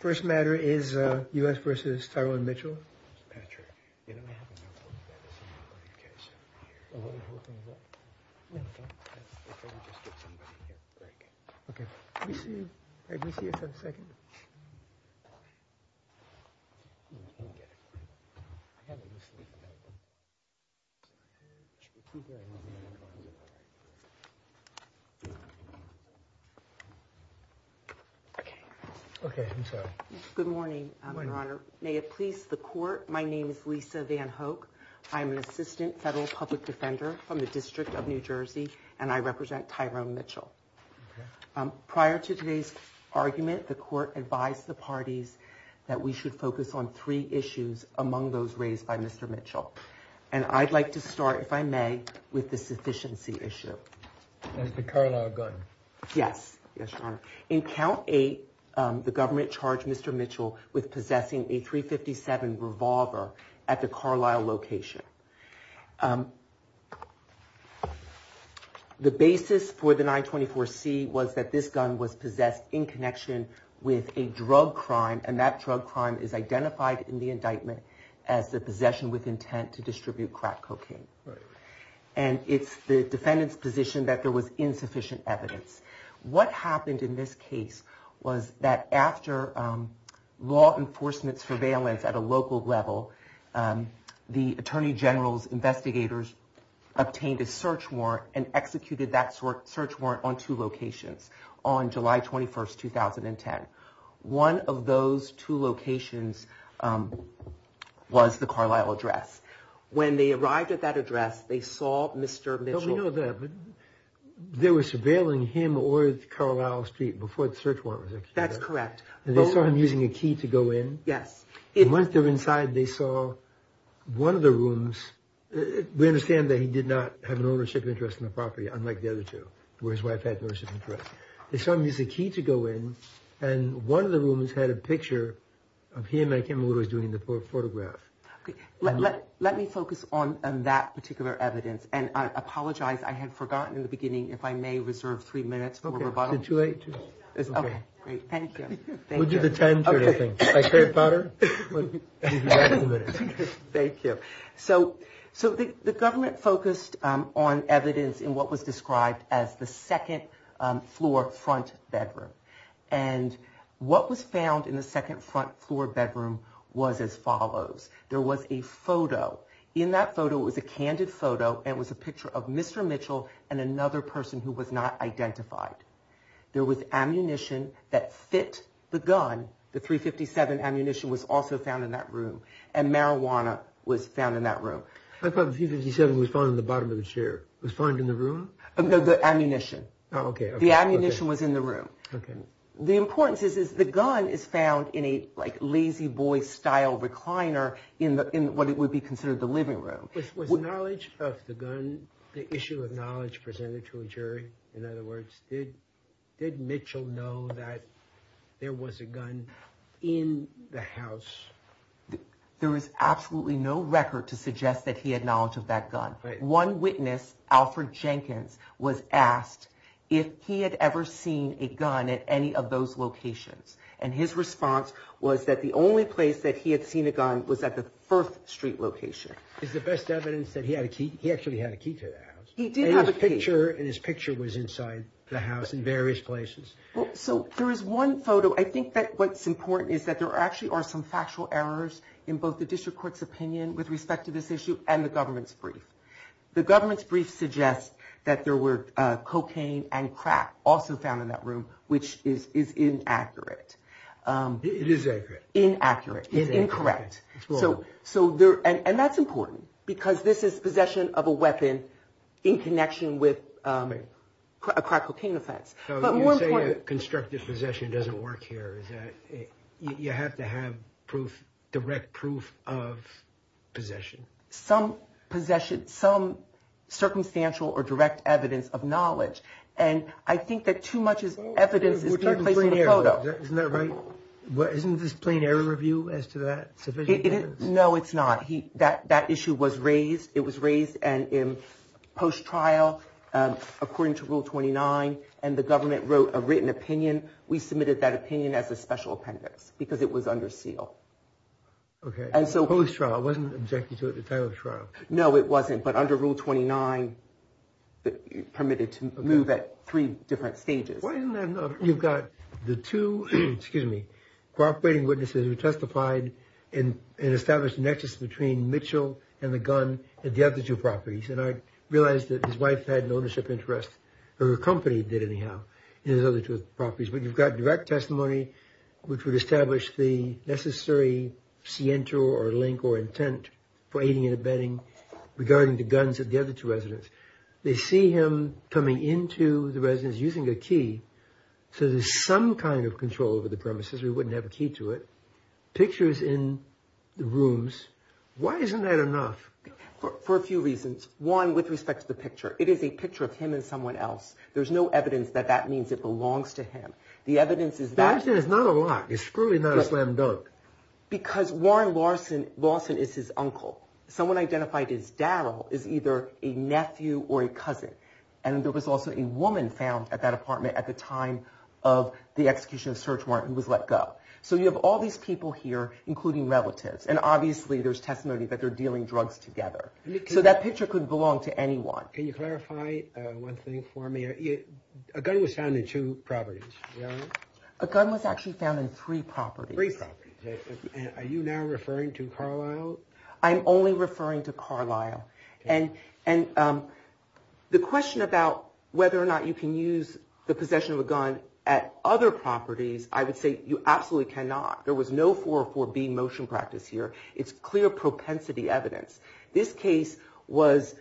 First matter is U.S. v. Tyrone Mitchell. Okay. Okay. I'm sorry. On account eight, the government charged Mr. Mitchell with possessing a .357 revolver at the Carlisle location. The basis for the 924C was that this gun was possessed in connection with a drug crime, and that drug crime is identified in the indictment as the possession with intent to distribute crack cocaine. And it's the defendant's position that there was insufficient evidence. What happened in this case was that after law enforcement surveillance at a local level, the Attorney General's investigators obtained a search warrant and executed that search warrant on two locations on July 21, 2010. One of those two locations was the Carlisle address. When they arrived at that address, they saw Mr. Mitchell. Let me focus on that particular evidence, and I apologize, I had forgotten in the beginning, if I may reserve three minutes for rebuttal. Okay. Thank you. So the government focused on evidence in what was described as the second-floor front bedroom, and what was found in the second-floor front bedroom was as follows. There was a photo. In that photo, it was a candid photo, and it was a picture of Mr. Mitchell and another person who was not identified. There was ammunition that fit the gun. The .357 ammunition was also found in that room, and marijuana was found in that room. I thought the .357 was found in the bottom of the chair. It was found in the room? No, the ammunition. The ammunition was in the room. The importance is the gun is found in a Lazy Boy-style recliner in what would be considered the living room. Was knowledge of the gun, the issue of knowledge, presented to a jury? In other words, did Mitchell know that there was a gun in the house? There is absolutely no record to suggest that he had knowledge of that gun. One witness, Alfred Jenkins, was asked if he had ever seen a gun at any of those locations. And his response was that the only place that he had seen a gun was at the First Street location. Is the best evidence that he actually had a key to the house? He did have a picture, and his picture was inside the house in various places. So there is one photo. I think that what's important is that there actually are some factual errors in both the district court's opinion with respect to this issue and the government's brief. The government's brief suggests that there were cocaine and crack also found in that room, which is inaccurate. It is accurate. And that's important, because this is possession of a weapon in connection with a crack cocaine offense. You say that constructive possession doesn't work here. You have to have direct proof of possession. Some circumstantial or direct evidence of knowledge. And I think that too much evidence is taking place in the photo. Isn't this plain error review as to that? No, it's not. That issue was raised. It was raised in post-trial according to Rule 29. And the government wrote a written opinion. We submitted that opinion as a special appendix, because it was under seal. Okay. Post-trial. It wasn't objected to at the time of trial. No, it wasn't. But under Rule 29, it permitted to move at three different stages. You've got the two, excuse me, cooperating witnesses who testified and established a nexus between Mitchell and the gun at the other two properties. And I realized that his wife had an ownership interest, or her company did anyhow, in his other two properties. But you've got direct testimony which would establish the necessary sciento or link or intent for aiding and abetting regarding the guns at the other two residents. They see him coming into the residence using a key. So there's some kind of control over the premises. We wouldn't have a key to it. Pictures in the rooms. Why isn't that enough? For a few reasons. One, with respect to the picture. It is a picture of him and someone else. There's no evidence that that means it belongs to him. It's not a lock. It's truly not a slam dunk. Because Warren Lawson is his uncle. Someone identified as Darryl is either a nephew or a cousin. And there was also a woman found at that apartment at the time of the execution of Search Warrant who was let go. So you have all these people here, including relatives. And obviously there's testimony that they're dealing drugs together. So that picture couldn't belong to anyone. Can you clarify one thing for me? A gun was found in two properties. A gun was actually found in three properties. Are you now referring to Carlisle? I'm only referring to Carlisle. And the question about whether or not you can use the possession of a gun at other properties, I would say you absolutely cannot. There was no 404B motion practice here. It's clear propensity evidence. This case was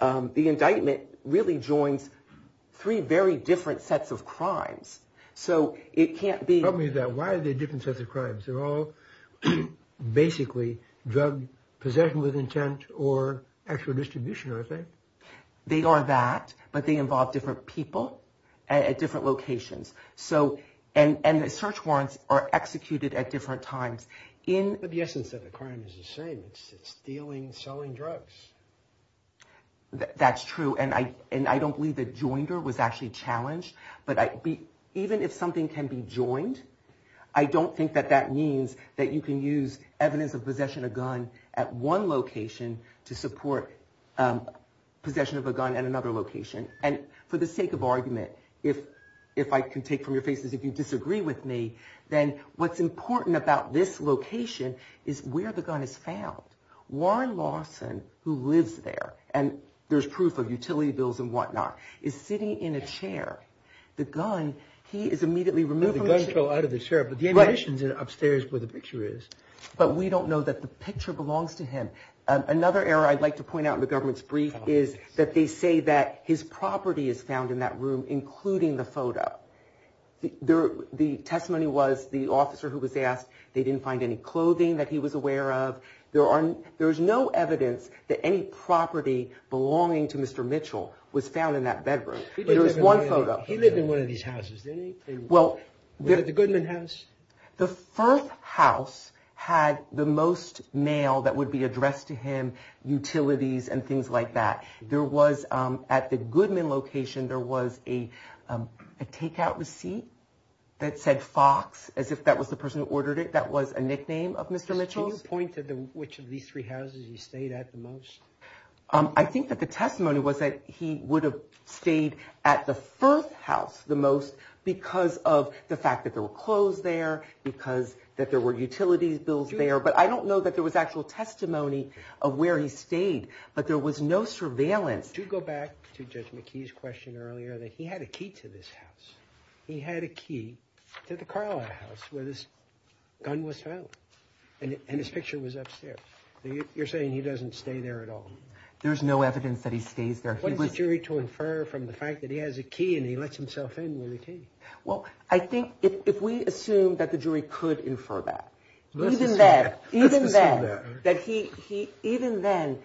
the indictment really joins three very different sets of crimes. So it can't be that. Why are there different sets of crimes? They're all basically drug possession with intent or actual distribution, I think. They are that. But they involve different people at different locations. And the search warrants are executed at different times. But the essence of the crime is the same. It's stealing, selling drugs. That's true. And I don't believe the joinder was actually challenged. But even if something can be joined, I don't think that that means that you can use evidence of possession of a gun at one location to support possession of a gun at another location. And for the sake of argument, if I can take from your faces, if you disagree with me, then what's important about this location is where the gun is found. Warren Lawson, who lives there, and there's proof of utility bills and whatnot, is sitting in a chair. The gun, he is immediately removed from the chair. But we don't know that the picture belongs to him. Another error I'd like to point out in the government's brief is that they say that his property is found in that room, including the photo. The testimony was the officer who was asked, they didn't find any clothing that he was aware of. There's no evidence that any property belonging to Mr. Mitchell was found in that bedroom. There was one photo. He lived in one of these houses, didn't he? Was it the Goodman house? The first house had the most mail that would be addressed to him, utilities and things like that. There was, at the Goodman location, there was a takeout receipt that said Fox, as if that was the person who ordered it, that was a nickname of Mr. Mitchell's. Can you point to which of these three houses he stayed at the most? I think that the testimony was that he would have stayed at the first house the most because of the fact that there were clothes there, because that there were utilities bills there. But I don't know that there was actual testimony of where he stayed. But there was no surveillance. To go back to Judge McKee's question earlier, that he had a key to this house. He had a key to the Carlyle house where this gun was found. And his picture was upstairs. You're saying he doesn't stay there at all. There's no evidence that he stays there. He wants the jury to infer from the fact that he has a key and he lets himself in with a key. Well, I think if we assume that the jury could infer that, even then,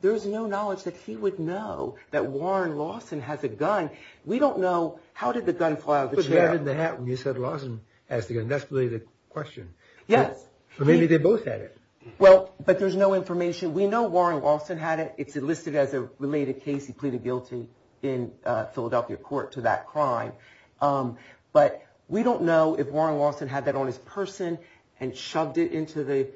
there's no knowledge that he would know that Warren Lawson has a gun. We don't know how did the gun fly out of the chair. You said Lawson has the gun. That's really the question. Yes. Maybe they both had it. Well, but there's no information. We know Warren Lawson had it. It's listed as a related case. He pleaded guilty in Philadelphia court to that crime. But we don't know if Warren Lawson had that on his person and shoved it into the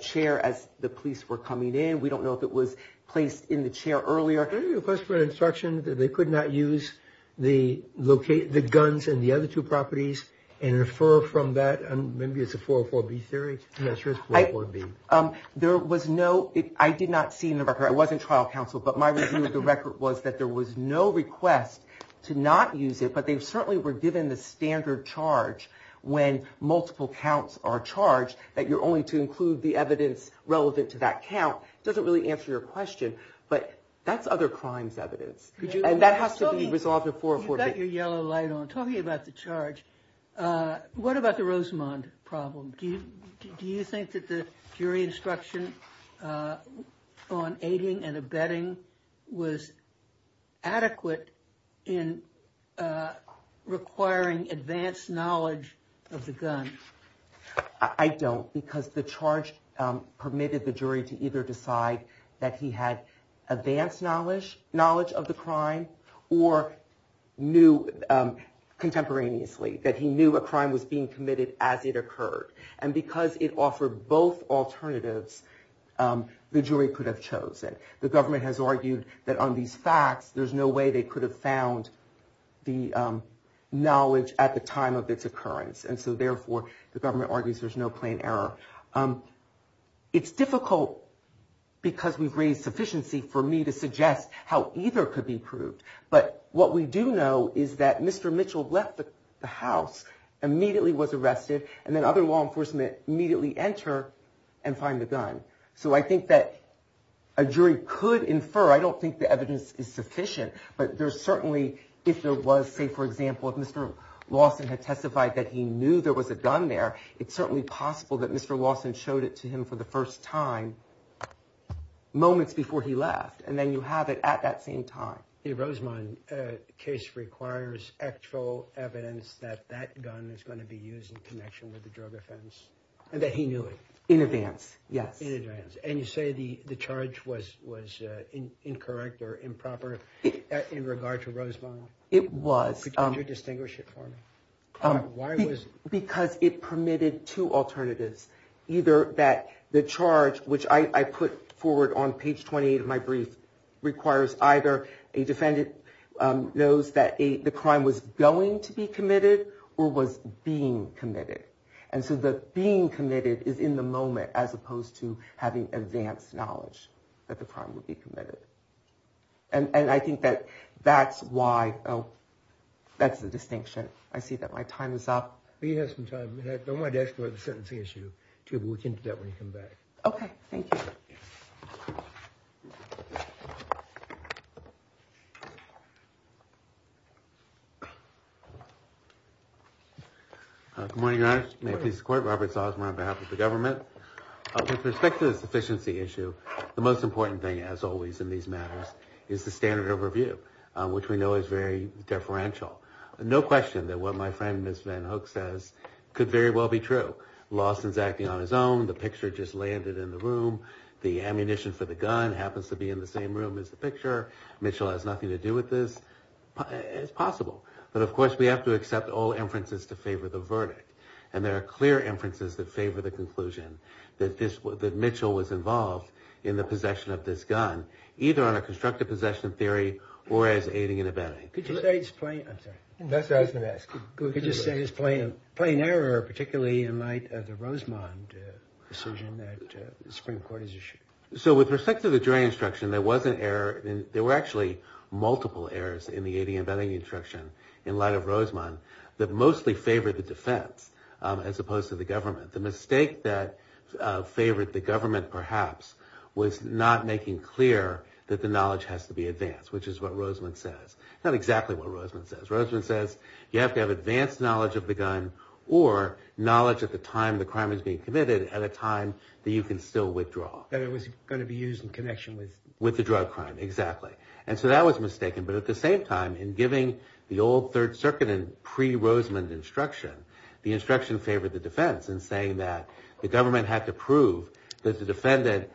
chair as the police were coming in. We don't know if it was placed in the chair earlier. They could not use the locate the guns and the other two properties and infer from that. Maybe it's a four or four B theory. There was no I did not see in the record. I wasn't trial counsel, but my review of the record was that there was no request to not use it. But they certainly were given the standard charge when multiple counts are charged that you're only to include the evidence relevant to that count. Doesn't really answer your question. But that's other crimes evidence. And that has to be resolved before you get your yellow light on talking about the charge. What about the Rosamond problem? Do you think that the jury instruction on aiding and abetting was adequate in requiring advanced knowledge of the gun? I don't because the charge permitted the jury to either decide that he had advanced knowledge, knowledge of the crime or knew contemporaneously that he knew a crime was being committed as it occurred. And because it offered both alternatives, the jury could have chosen. The government has argued that on these facts, there's no way they could have found the knowledge at the time of its occurrence. And so therefore, the government argues there's no plain error. It's difficult because we've raised sufficiency for me to suggest how either could be proved. But what we do know is that Mr. Mitchell left the house immediately was arrested and then other law enforcement immediately enter and find the gun. So I think that a jury could infer. I don't think the evidence is sufficient, but there's certainly if there was, say, for example, if Mr. Lawson had testified that he knew there was a gun there, it's certainly possible that Mr. Lawson showed it to him for the first time moments before he left. And then you have it at that same time. The Rosemont case requires actual evidence that that gun is going to be used in connection with the drug offense and that he knew it in advance. Yes. And you say the the charge was was incorrect or improper in regard to Rosemont? It was. Could you distinguish it for me? Why was because it permitted two alternatives, either that the charge, which I put forward on page 28 of my brief, requires either a defendant knows that the crime was going to be committed or was being committed. And so the being committed is in the moment as opposed to having advanced knowledge that the crime would be committed. And I think that that's why. Oh, that's the distinction. I see that my time is up. We have some time. I want to ask about the sentencing issue to look into that when you come back. OK, thank you. Good morning. May I please support Robert Salzman on behalf of the government with respect to this efficiency issue? The most important thing, as always in these matters, is the standard overview, which we know is very differential. No question that what my friend, Ms. Van Hook, says could very well be true. Lawson's acting on his own. The picture just landed in the room. The ammunition for the gun happens to be in the same room as the picture. Mitchell has nothing to do with this. It's possible. But of course, we have to accept all inferences to favor the verdict. And there are clear inferences that favor the conclusion that this was that Mitchell was involved in the possession of this gun, either on a constructive possession theory or as aiding and abetting. Could you say it's plain error, particularly in light of the Rosemond decision that the Supreme Court has issued? So with respect to the jury instruction, there were actually multiple errors in the aiding and abetting instruction in light of Rosemond that mostly favored the defense as opposed to the government. The mistake that favored the government, perhaps, was not making clear that the knowledge has to be advanced, which is what Rosemond says. Not exactly what Rosemond says. Rosemond says you have to have advanced knowledge of the gun or knowledge at the time the crime is being committed at a time that you can still withdraw. That it was going to be used in connection with the drug crime. Exactly. And so that was mistaken. But at the same time, in giving the old Third Circuit and pre-Rosemond instruction, the instruction favored the defense in saying that the government had to prove that the defendant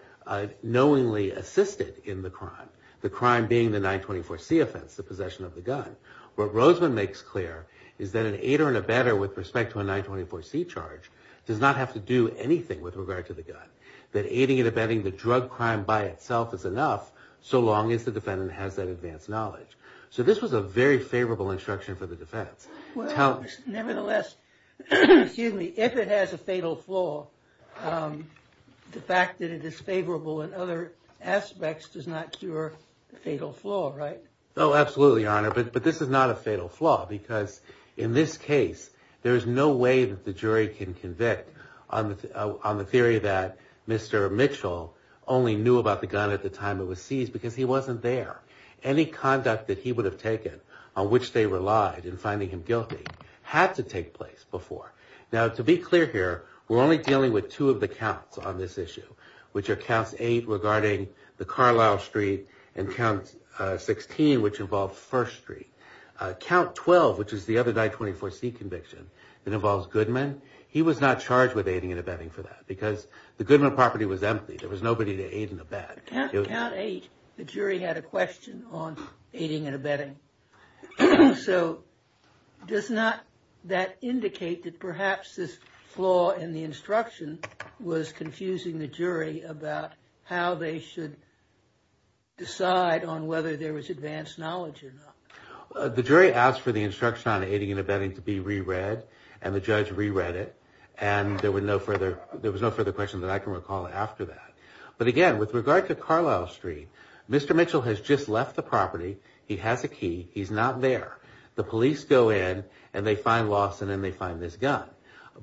knowingly assisted in the crime. The crime being the 924C offense, the possession of the gun. What Rosemond makes clear is that an aider and abetter with respect to a 924C charge does not have to do anything with regard to the gun. That aiding and abetting the drug crime by itself is enough so long as the defendant has that advanced knowledge. So this was a very favorable instruction for the defense. Nevertheless, if it has a fatal flaw, the fact that it is favorable in other aspects does not cure the fatal flaw, right? Oh, absolutely, Your Honor. But this is not a fatal flaw because in this case, there is no way that the jury can convict on the theory that Mr. Mitchell only knew about the gun at the time it was seized because he wasn't there. Any conduct that he would have taken on which they relied in finding him guilty had to take place before. Now, to be clear here, we're only dealing with two of the counts on this issue, which are Counts 8 regarding the Carlisle Street and Count 16, which involved First Street. Count 12, which is the other 924C conviction that involves Goodman, he was not charged with aiding and abetting for that because the Goodman property was empty. There was nobody to aid and abet. Count 8, the jury had a question on aiding and abetting. So does not that indicate that perhaps this flaw in the instruction was confusing the jury about how they should decide on whether there was advanced knowledge or not? The jury asked for the instruction on aiding and abetting to be reread and the judge reread it. And there was no further question that I can recall after that. But again, with regard to Carlisle Street, Mr. Mitchell has just left the property. He has a key. He's not there. The police go in and they find Lawson and they find this gun.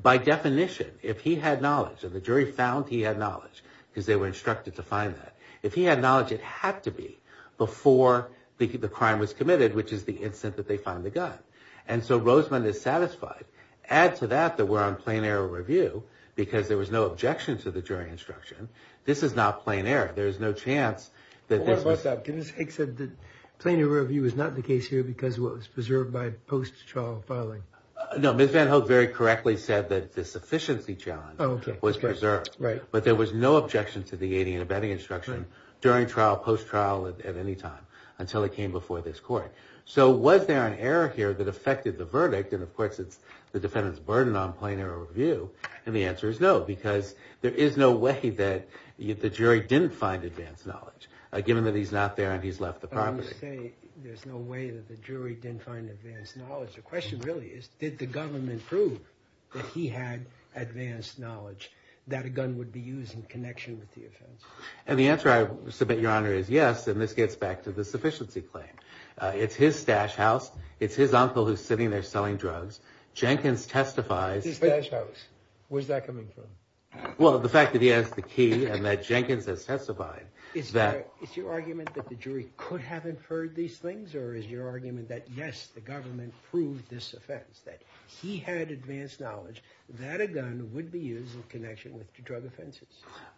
By definition, if he had knowledge and the jury found he had knowledge because they were instructed to find that, if he had knowledge, it had to be before the crime was committed, which is the instant that they find the gun. And so Rosemond is satisfied. Add to that that we're on plain error review because there was no objection to the jury instruction. This is not plain error. There is no chance that this was... No, Ms. Van Hoek very correctly said that the sufficiency challenge was preserved. But there was no objection to the aiding and abetting instruction during trial, post trial at any time until it came before this court. So was there an error here that affected the verdict? And of course, it's the defendant's burden on plain error review. And the answer is no, because there is no way that the jury didn't find advanced knowledge given that he's not there and he's left the property. There's no way that the jury didn't find advanced knowledge. The question really is, did the government prove that he had advanced knowledge that a gun would be used in connection with the offense? And the answer I submit, Your Honor, is yes. And this gets back to the sufficiency claim. It's his stash house. It's his uncle who's sitting there selling drugs. Jenkins testifies. Where's that coming from? Well, the fact that he has the key and that Jenkins has testified. Is your argument that the jury could have inferred these things or is your argument that, yes, the government proved this offense, that he had advanced knowledge that a gun would be used in connection with drug offenses?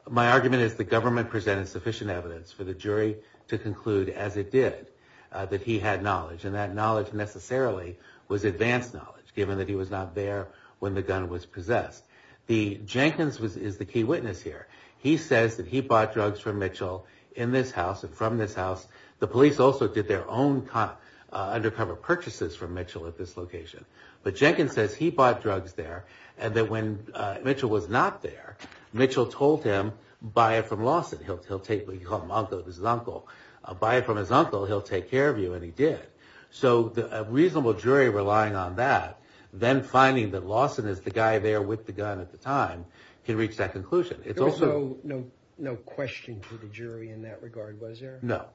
My argument is the government presented sufficient evidence for the jury to conclude, as it did, that he had knowledge. And that knowledge necessarily was advanced knowledge, given that he was not there when the gun was possessed. Jenkins is the key witness here. He says that he bought drugs from Mitchell in this house and from this house. The police also did their own undercover purchases from Mitchell at this location. But Jenkins says he bought drugs there and that when Mitchell was not there, Mitchell told him, buy it from Lawson. He'll take what he called his uncle. Buy it from his uncle. He'll take care of you. And he did. So a reasonable jury relying on that, then finding that Lawson is the guy there with the gun at the time, can reach that conclusion. There was no question to the jury in that regard, was there? No.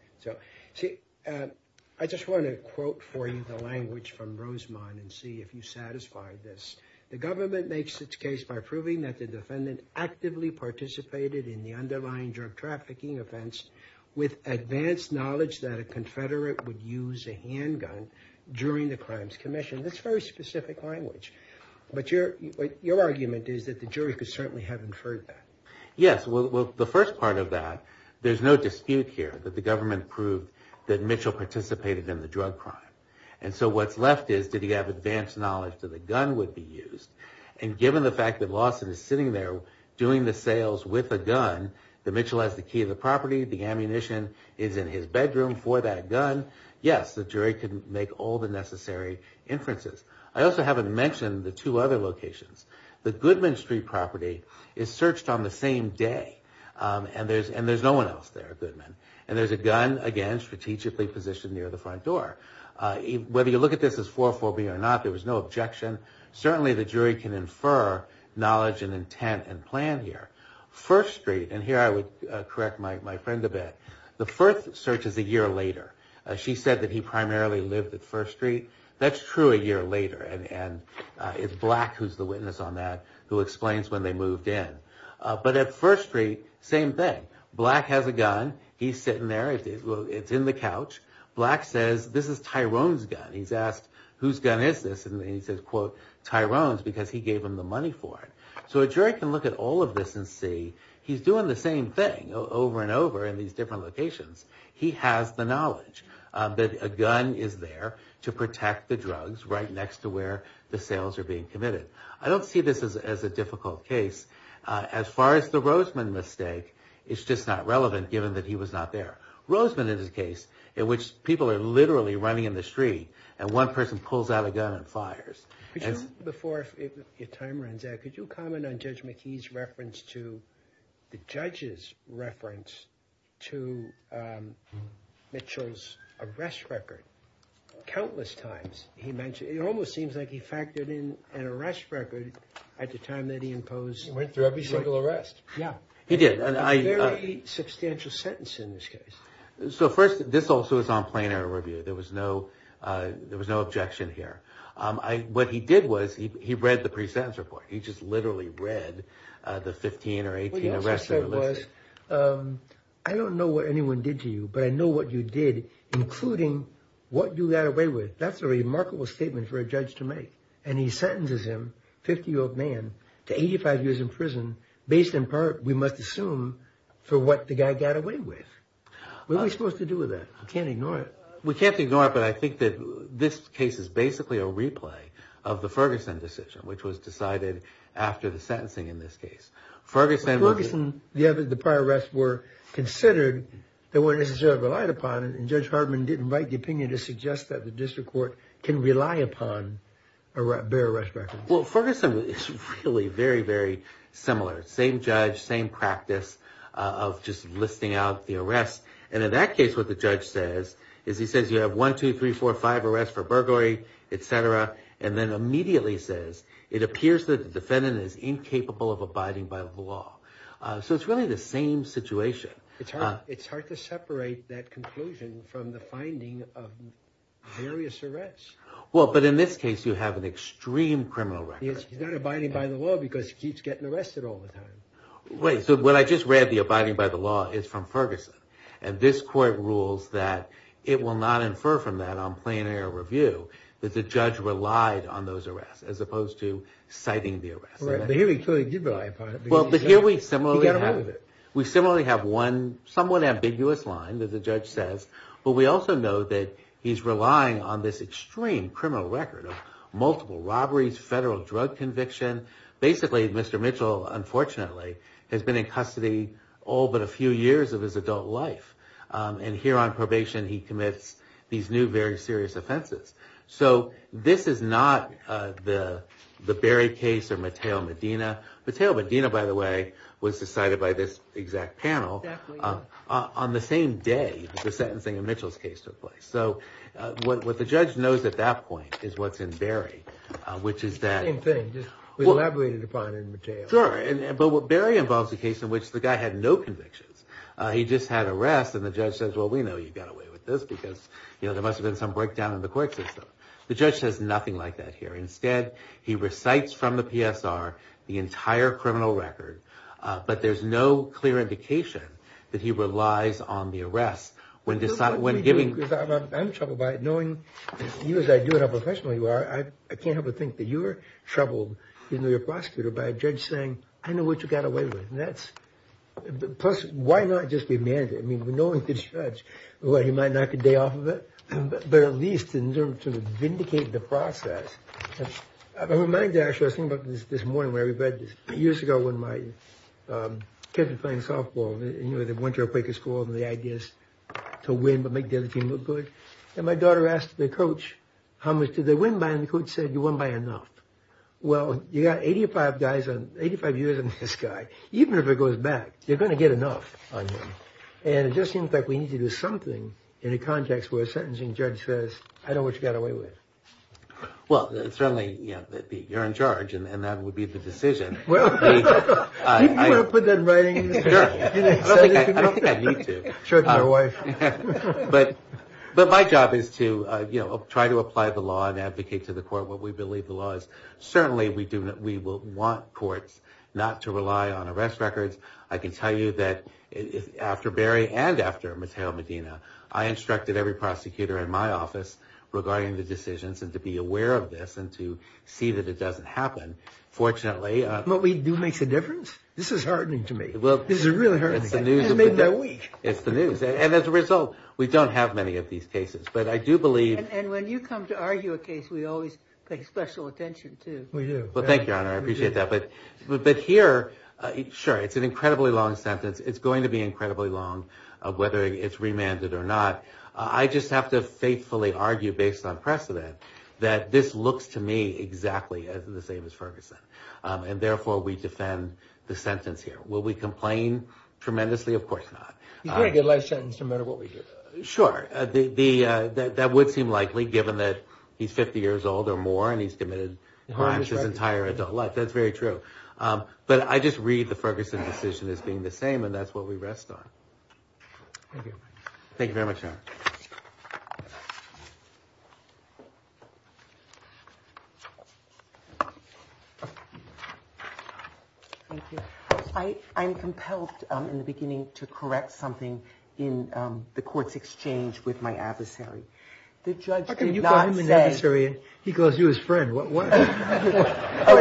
I just want to quote for you the language from Rosemont and see if you satisfy this. The government makes its case by proving that the defendant actively participated in the underlying drug trafficking offense with advanced knowledge that a confederate would use a handgun during the crimes commission. That's very specific language. But your argument is that the jury could certainly have inferred that. Yes. Well, the first part of that, there's no dispute here that the government proved that Mitchell participated in the drug crime. And so what's left is, did he have advanced knowledge that a gun would be used? And given the fact that Lawson is sitting there doing the sales with a gun, that Mitchell has the key to the property, the ammunition is in his bedroom for that gun, yes, the jury can make all the necessary inferences. I also haven't mentioned the two other locations. The Goodman Street property is searched on the same day, and there's no one else there at Goodman. And there's a gun, again, strategically positioned near the front door. Whether you look at this as 4-4-B or not, there was no objection. Certainly the jury can infer knowledge and intent and plan here. First Street, and here I would correct my friend a bit, the first search is a year later. She said that he primarily lived at First Street. That's true a year later, and it's Black who's the witness on that, who explains when they moved in. But at First Street, same thing. Black has a gun. He's sitting there. It's in the couch. Black says, this is Tyrone's gun. He's asked, whose gun is this? And he says, quote, Tyrone's, because he gave him the money for it. So a jury can look at all of this and see he's doing the same thing over and over in these different locations. He has the knowledge that a gun is there to protect the drugs right next to where the sales are being committed. I don't see this as a difficult case. As far as the Roseman mistake, it's just not relevant, given that he was not there. Roseman is a case in which people are literally running in the street and one person pulls out a gun and fires. Before your time runs out, could you comment on Judge McKee's reference to the judge's reference to Mitchell's arrest record? Countless times he mentioned, it almost seems like he factored in an arrest record at the time that he imposed. He went through every single arrest. So first, this also is on plain error review. There was no objection here. What he did was he read the pre-sentence report. He just literally read the 15 or 18 arrests. I don't know what anyone did to you, but I know what you did, including what you got away with. That's a remarkable statement for a judge to make, and he sentences him, a 50-year-old man, to 85 years in prison, based in part, we must assume, for what the guy got away with. What are we supposed to do with that? We can't ignore it. We can't ignore it, but I think that this case is basically a replay of the Ferguson decision, which was decided after the sentencing in this case. The prior arrests were considered, they weren't necessarily relied upon, and Judge Hardman didn't write the opinion to suggest that the district court can rely upon a bare arrest record. Well, Ferguson is really very, very similar. Same judge, same practice of just listing out the arrests. And in that case, what the judge says is he says you have one, two, three, four, five arrests for burglary, etc. And then immediately says it appears that the defendant is incapable of abiding by the law. So it's really the same situation. It's hard to separate that conclusion from the finding of various arrests. Well, but in this case, you have an extreme criminal record. He's not abiding by the law because he keeps getting arrested all the time. Wait, so what I just read, the abiding by the law, is from Ferguson. And this court rules that it will not infer from that on plain air review that the judge relied on those arrests as opposed to citing the arrests. But here we clearly did rely upon it. Well, but here we similarly have one somewhat ambiguous line that the judge says. But we also know that he's relying on this extreme criminal record of multiple robberies, federal drug conviction. Basically, Mr. Mitchell, unfortunately, has been in custody all but a few years of his adult life. And here on probation, he commits these new very serious offenses. So this is not the Berry case or Mateo Medina. Mateo Medina, by the way, was decided by this exact panel on the same day the sentencing of Mitchell's case took place. So what the judge knows at that point is what's in Berry, which is that... The same thing, just elaborated upon in Mateo. Sure, but Berry involves a case in which the guy had no convictions. He just had arrests, and the judge says, well, we know you got away with this because there must have been some breakdown in the court system. The judge says nothing like that here. Instead, he recites from the PSR the entire criminal record, but there's no clear indication that he relies on the arrests. I'm troubled by it, knowing you as I do and how professional you are. I can't help but think that you're troubled, you know, your prosecutor by a judge saying, I know what you got away with. Plus, why not just demand it? I mean, knowing the judge, he might knock a day off of it. But at least to vindicate the process. I'm reminded, actually, I was thinking about this morning where we read this years ago when my kids were playing softball. You know, they went to a Quaker school and the idea is to win, but make the other team look good. And my daughter asked the coach, how much did they win by? And the coach said, you won by enough. Well, you got 85 years on this guy. Even if it goes back, you're going to get enough on him. And it just seems like we need to do something in a context where a sentencing judge says, I know what you got away with. Well, certainly you're in charge and that would be the decision. I don't think I need to. But my job is to try to apply the law and advocate to the court what we believe the law is. Certainly we do. We will want courts not to rely on arrest records. I can tell you that after Barry and after Matteo Medina, I instructed every prosecutor in my office regarding the decisions and to be aware of this and to see that it doesn't happen. Fortunately, what we do makes a difference. This is heartening to me. It's the news. And as a result, we don't have many of these cases. And when you come to argue a case, we always pay special attention, too. We do. Well, thank you, Your Honor. I appreciate that. But here, sure, it's an incredibly long sentence. It's going to be incredibly long, whether it's remanded or not. I just have to faithfully argue based on precedent that this looks to me exactly the same as Ferguson. And therefore, we defend the sentence here. Will we complain tremendously? Of course not. You get a good life sentence no matter what we do. Sure. That would seem likely, given that he's 50 years old or more and he's committed perhaps his entire adult life. That's very true. But I just read the Ferguson decision as being the same. And that's what we rest on. Thank you very much, Your Honor. Thank you. I'm compelled in the beginning to correct something in the court's exchange with my adversary. The judge did not say. He calls you his friend. What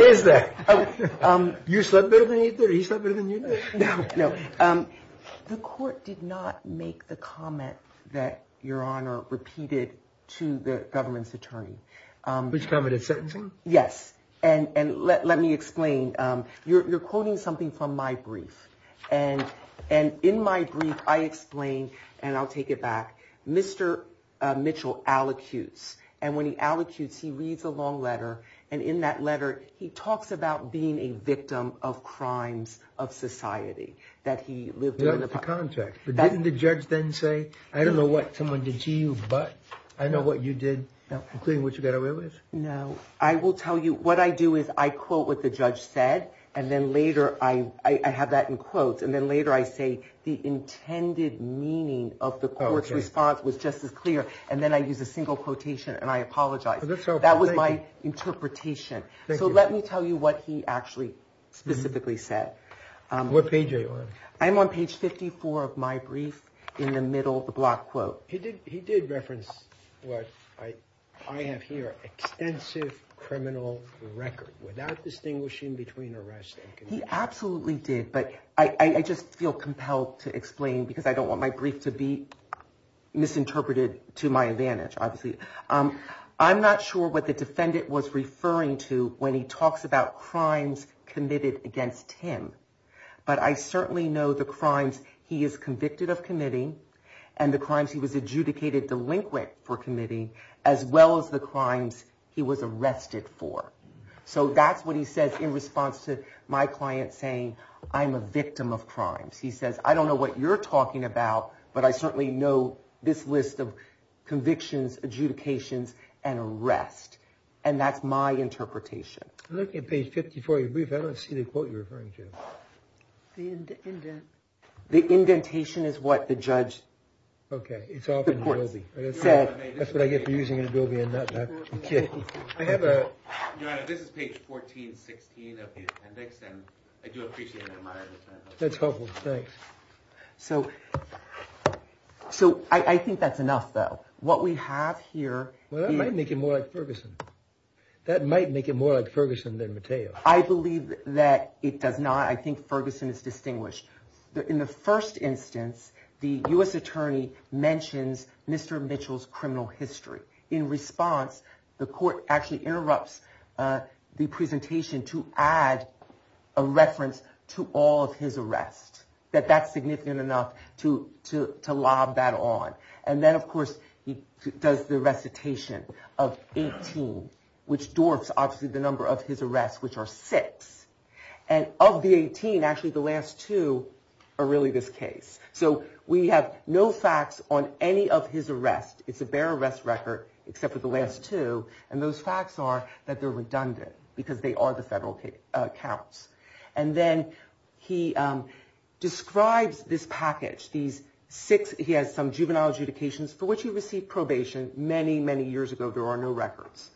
is that? You slept better than he did. He slept better than you did. No, no. The court did not make the comment that Your Honor repeated to the government's attorney. Which commented sentencing. Yes. And let me explain. You're quoting something from my brief. And and in my brief, I explain and I'll take it back. Mr. Mitchell allocutes. And when he allocutes, he reads a long letter. And in that letter, he talks about being a victim of crimes of society that he lived in. But didn't the judge then say, I don't know what someone did to you, but I know what you did, including what you got away with. No, I will tell you what I do is I quote what the judge said. And then later I have that in quotes. And then later I say the intended meaning of the court's response was just as clear. And then I use a single quotation and I apologize. So that was my interpretation. So let me tell you what he actually specifically said. What page are you on? I'm on page fifty four of my brief in the middle of the block quote. He did. He did reference what I have here, extensive criminal record without distinguishing between arrest. He absolutely did. But I just feel compelled to explain because I don't want my brief to be misinterpreted to my advantage. Obviously, I'm not sure what the defendant was referring to when he talks about crimes committed against him. But I certainly know the crimes he is convicted of committing and the crimes he was adjudicated delinquent for committing, as well as the crimes he was arrested for. So that's what he says in response to my client saying I'm a victim of crimes. He says, I don't know what you're talking about, but I certainly know this list of convictions, adjudications and arrest. And that's my interpretation. I'm looking at page fifty four of your brief. I don't see the quote you're referring to. The indentation is what the judge said. That's what I get for using an adobe in that. This is page 14, 16 of the appendix. And I do appreciate that. That's helpful. Thanks. So so I think that's enough, though. What we have here might make it more like Ferguson. That might make it more like Ferguson than Matteo. I believe that it does not. I think Ferguson is distinguished in the first instance. The U.S. attorney mentions Mr. Mitchell's criminal history. In response, the court actually interrupts the presentation to add a reference to all of his arrest. That that's significant enough to lob that on. And then, of course, he does the recitation of 18, which dwarfs obviously the number of his arrests, which are six. And of the 18, actually the last two are really this case. So we have no facts on any of his arrests. It's a bare arrest record except for the last two. And those facts are that they're redundant because they are the federal counts. And then he describes this package, these six. He has some juvenile adjudications for which he received probation many, many years ago. There are no records.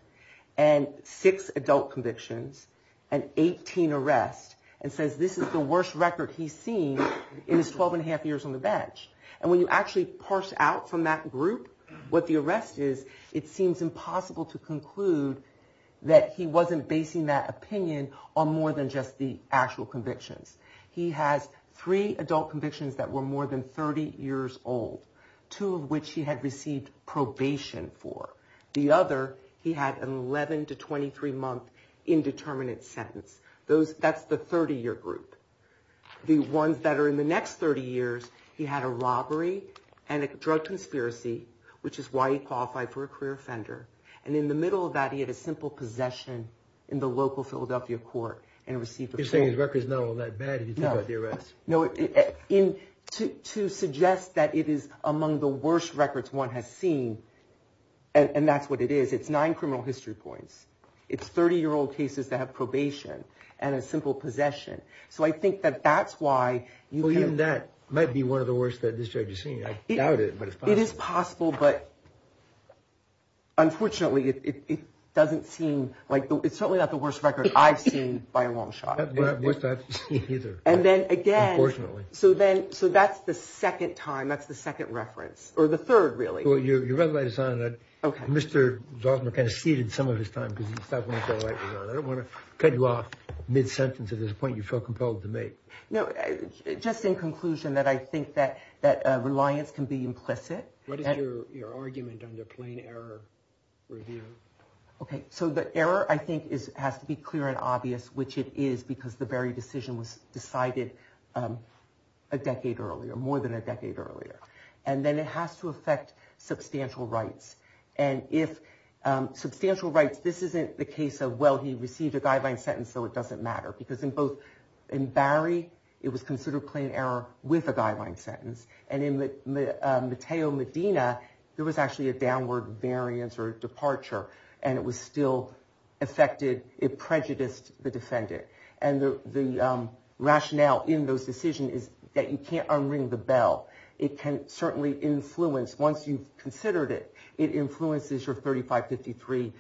And six adult convictions and 18 arrests. And says this is the worst record he's seen in his 12 and a half years on the bench. And when you actually parse out from that group what the arrest is, it seems impossible to conclude that he wasn't basing that opinion on more than just the actual convictions. He has three adult convictions that were more than 30 years old, two of which he had received probation for. The other, he had an 11 to 23 month indeterminate sentence. Those, that's the 30 year group. The ones that are in the next 30 years, he had a robbery and a drug conspiracy, which is why he qualified for a career offender. And in the middle of that, he had a simple possession in the local Philadelphia court and received a probation. You're saying his record's not all that bad? No. To suggest that it is among the worst records one has seen, and that's what it is, it's nine criminal history points. It's 30 year old cases that have probation. And a simple possession. So I think that that's why... Even that might be one of the worst that this judge has seen. I doubt it, but it's possible. But unfortunately, it doesn't seem like... It's certainly not the worst record I've seen by a long shot. That's not the worst I've seen either, unfortunately. So that's the second time, that's the second reference. Or the third, really. Well, your red light is on. Mr. Zaltzman kind of ceded some of his time because he stopped when his red light was on. I don't want to cut you off mid-sentence at this point. You feel compelled to make. Just in conclusion, I think that reliance can be implicit. What is your argument under plain error review? So the error, I think, has to be clear and obvious, which it is because the very decision was decided a decade earlier, more than a decade earlier. And then it has to affect substantial rights. And if substantial rights... This isn't the case of, well, he received a guideline sentence, so it doesn't matter. Because in Barry, it was considered plain error with a guideline sentence. And in Mateo Medina, there was actually a downward variance or departure. And it was still affected, it prejudiced the defendant. And the rationale in those decisions is that you can't unring the bell. It can certainly influence, once you've considered it, it influences your 3553A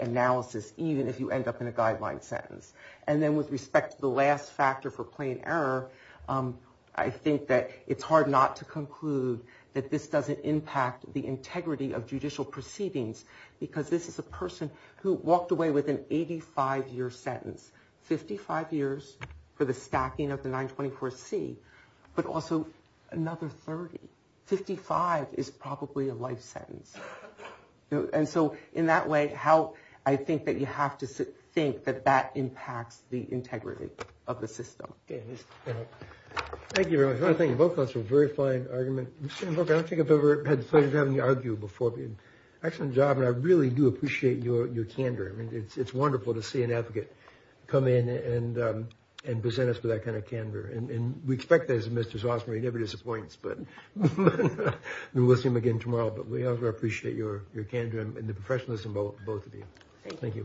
analysis, even if you end up in a guideline sentence. And then with respect to the last factor for plain error, I think that it's hard not to conclude that this doesn't impact the integrity of judicial proceedings. Because this is a person who walked away with an 85-year sentence. 55 years for the stacking of the 924C, but also another 30. 55 is probably a life sentence. And so in that way, I think that you have to think that that impacts the integrity of the system. Thank you very much. I think both of us have a very fine argument. Excellent job, and I really do appreciate your candor. It's wonderful to see an advocate come in and present us with that kind of candor. And we expect that as a Mr. Zossmer, he never disappoints, but we will see him again tomorrow. But we appreciate your candor and the professionalism of both of you.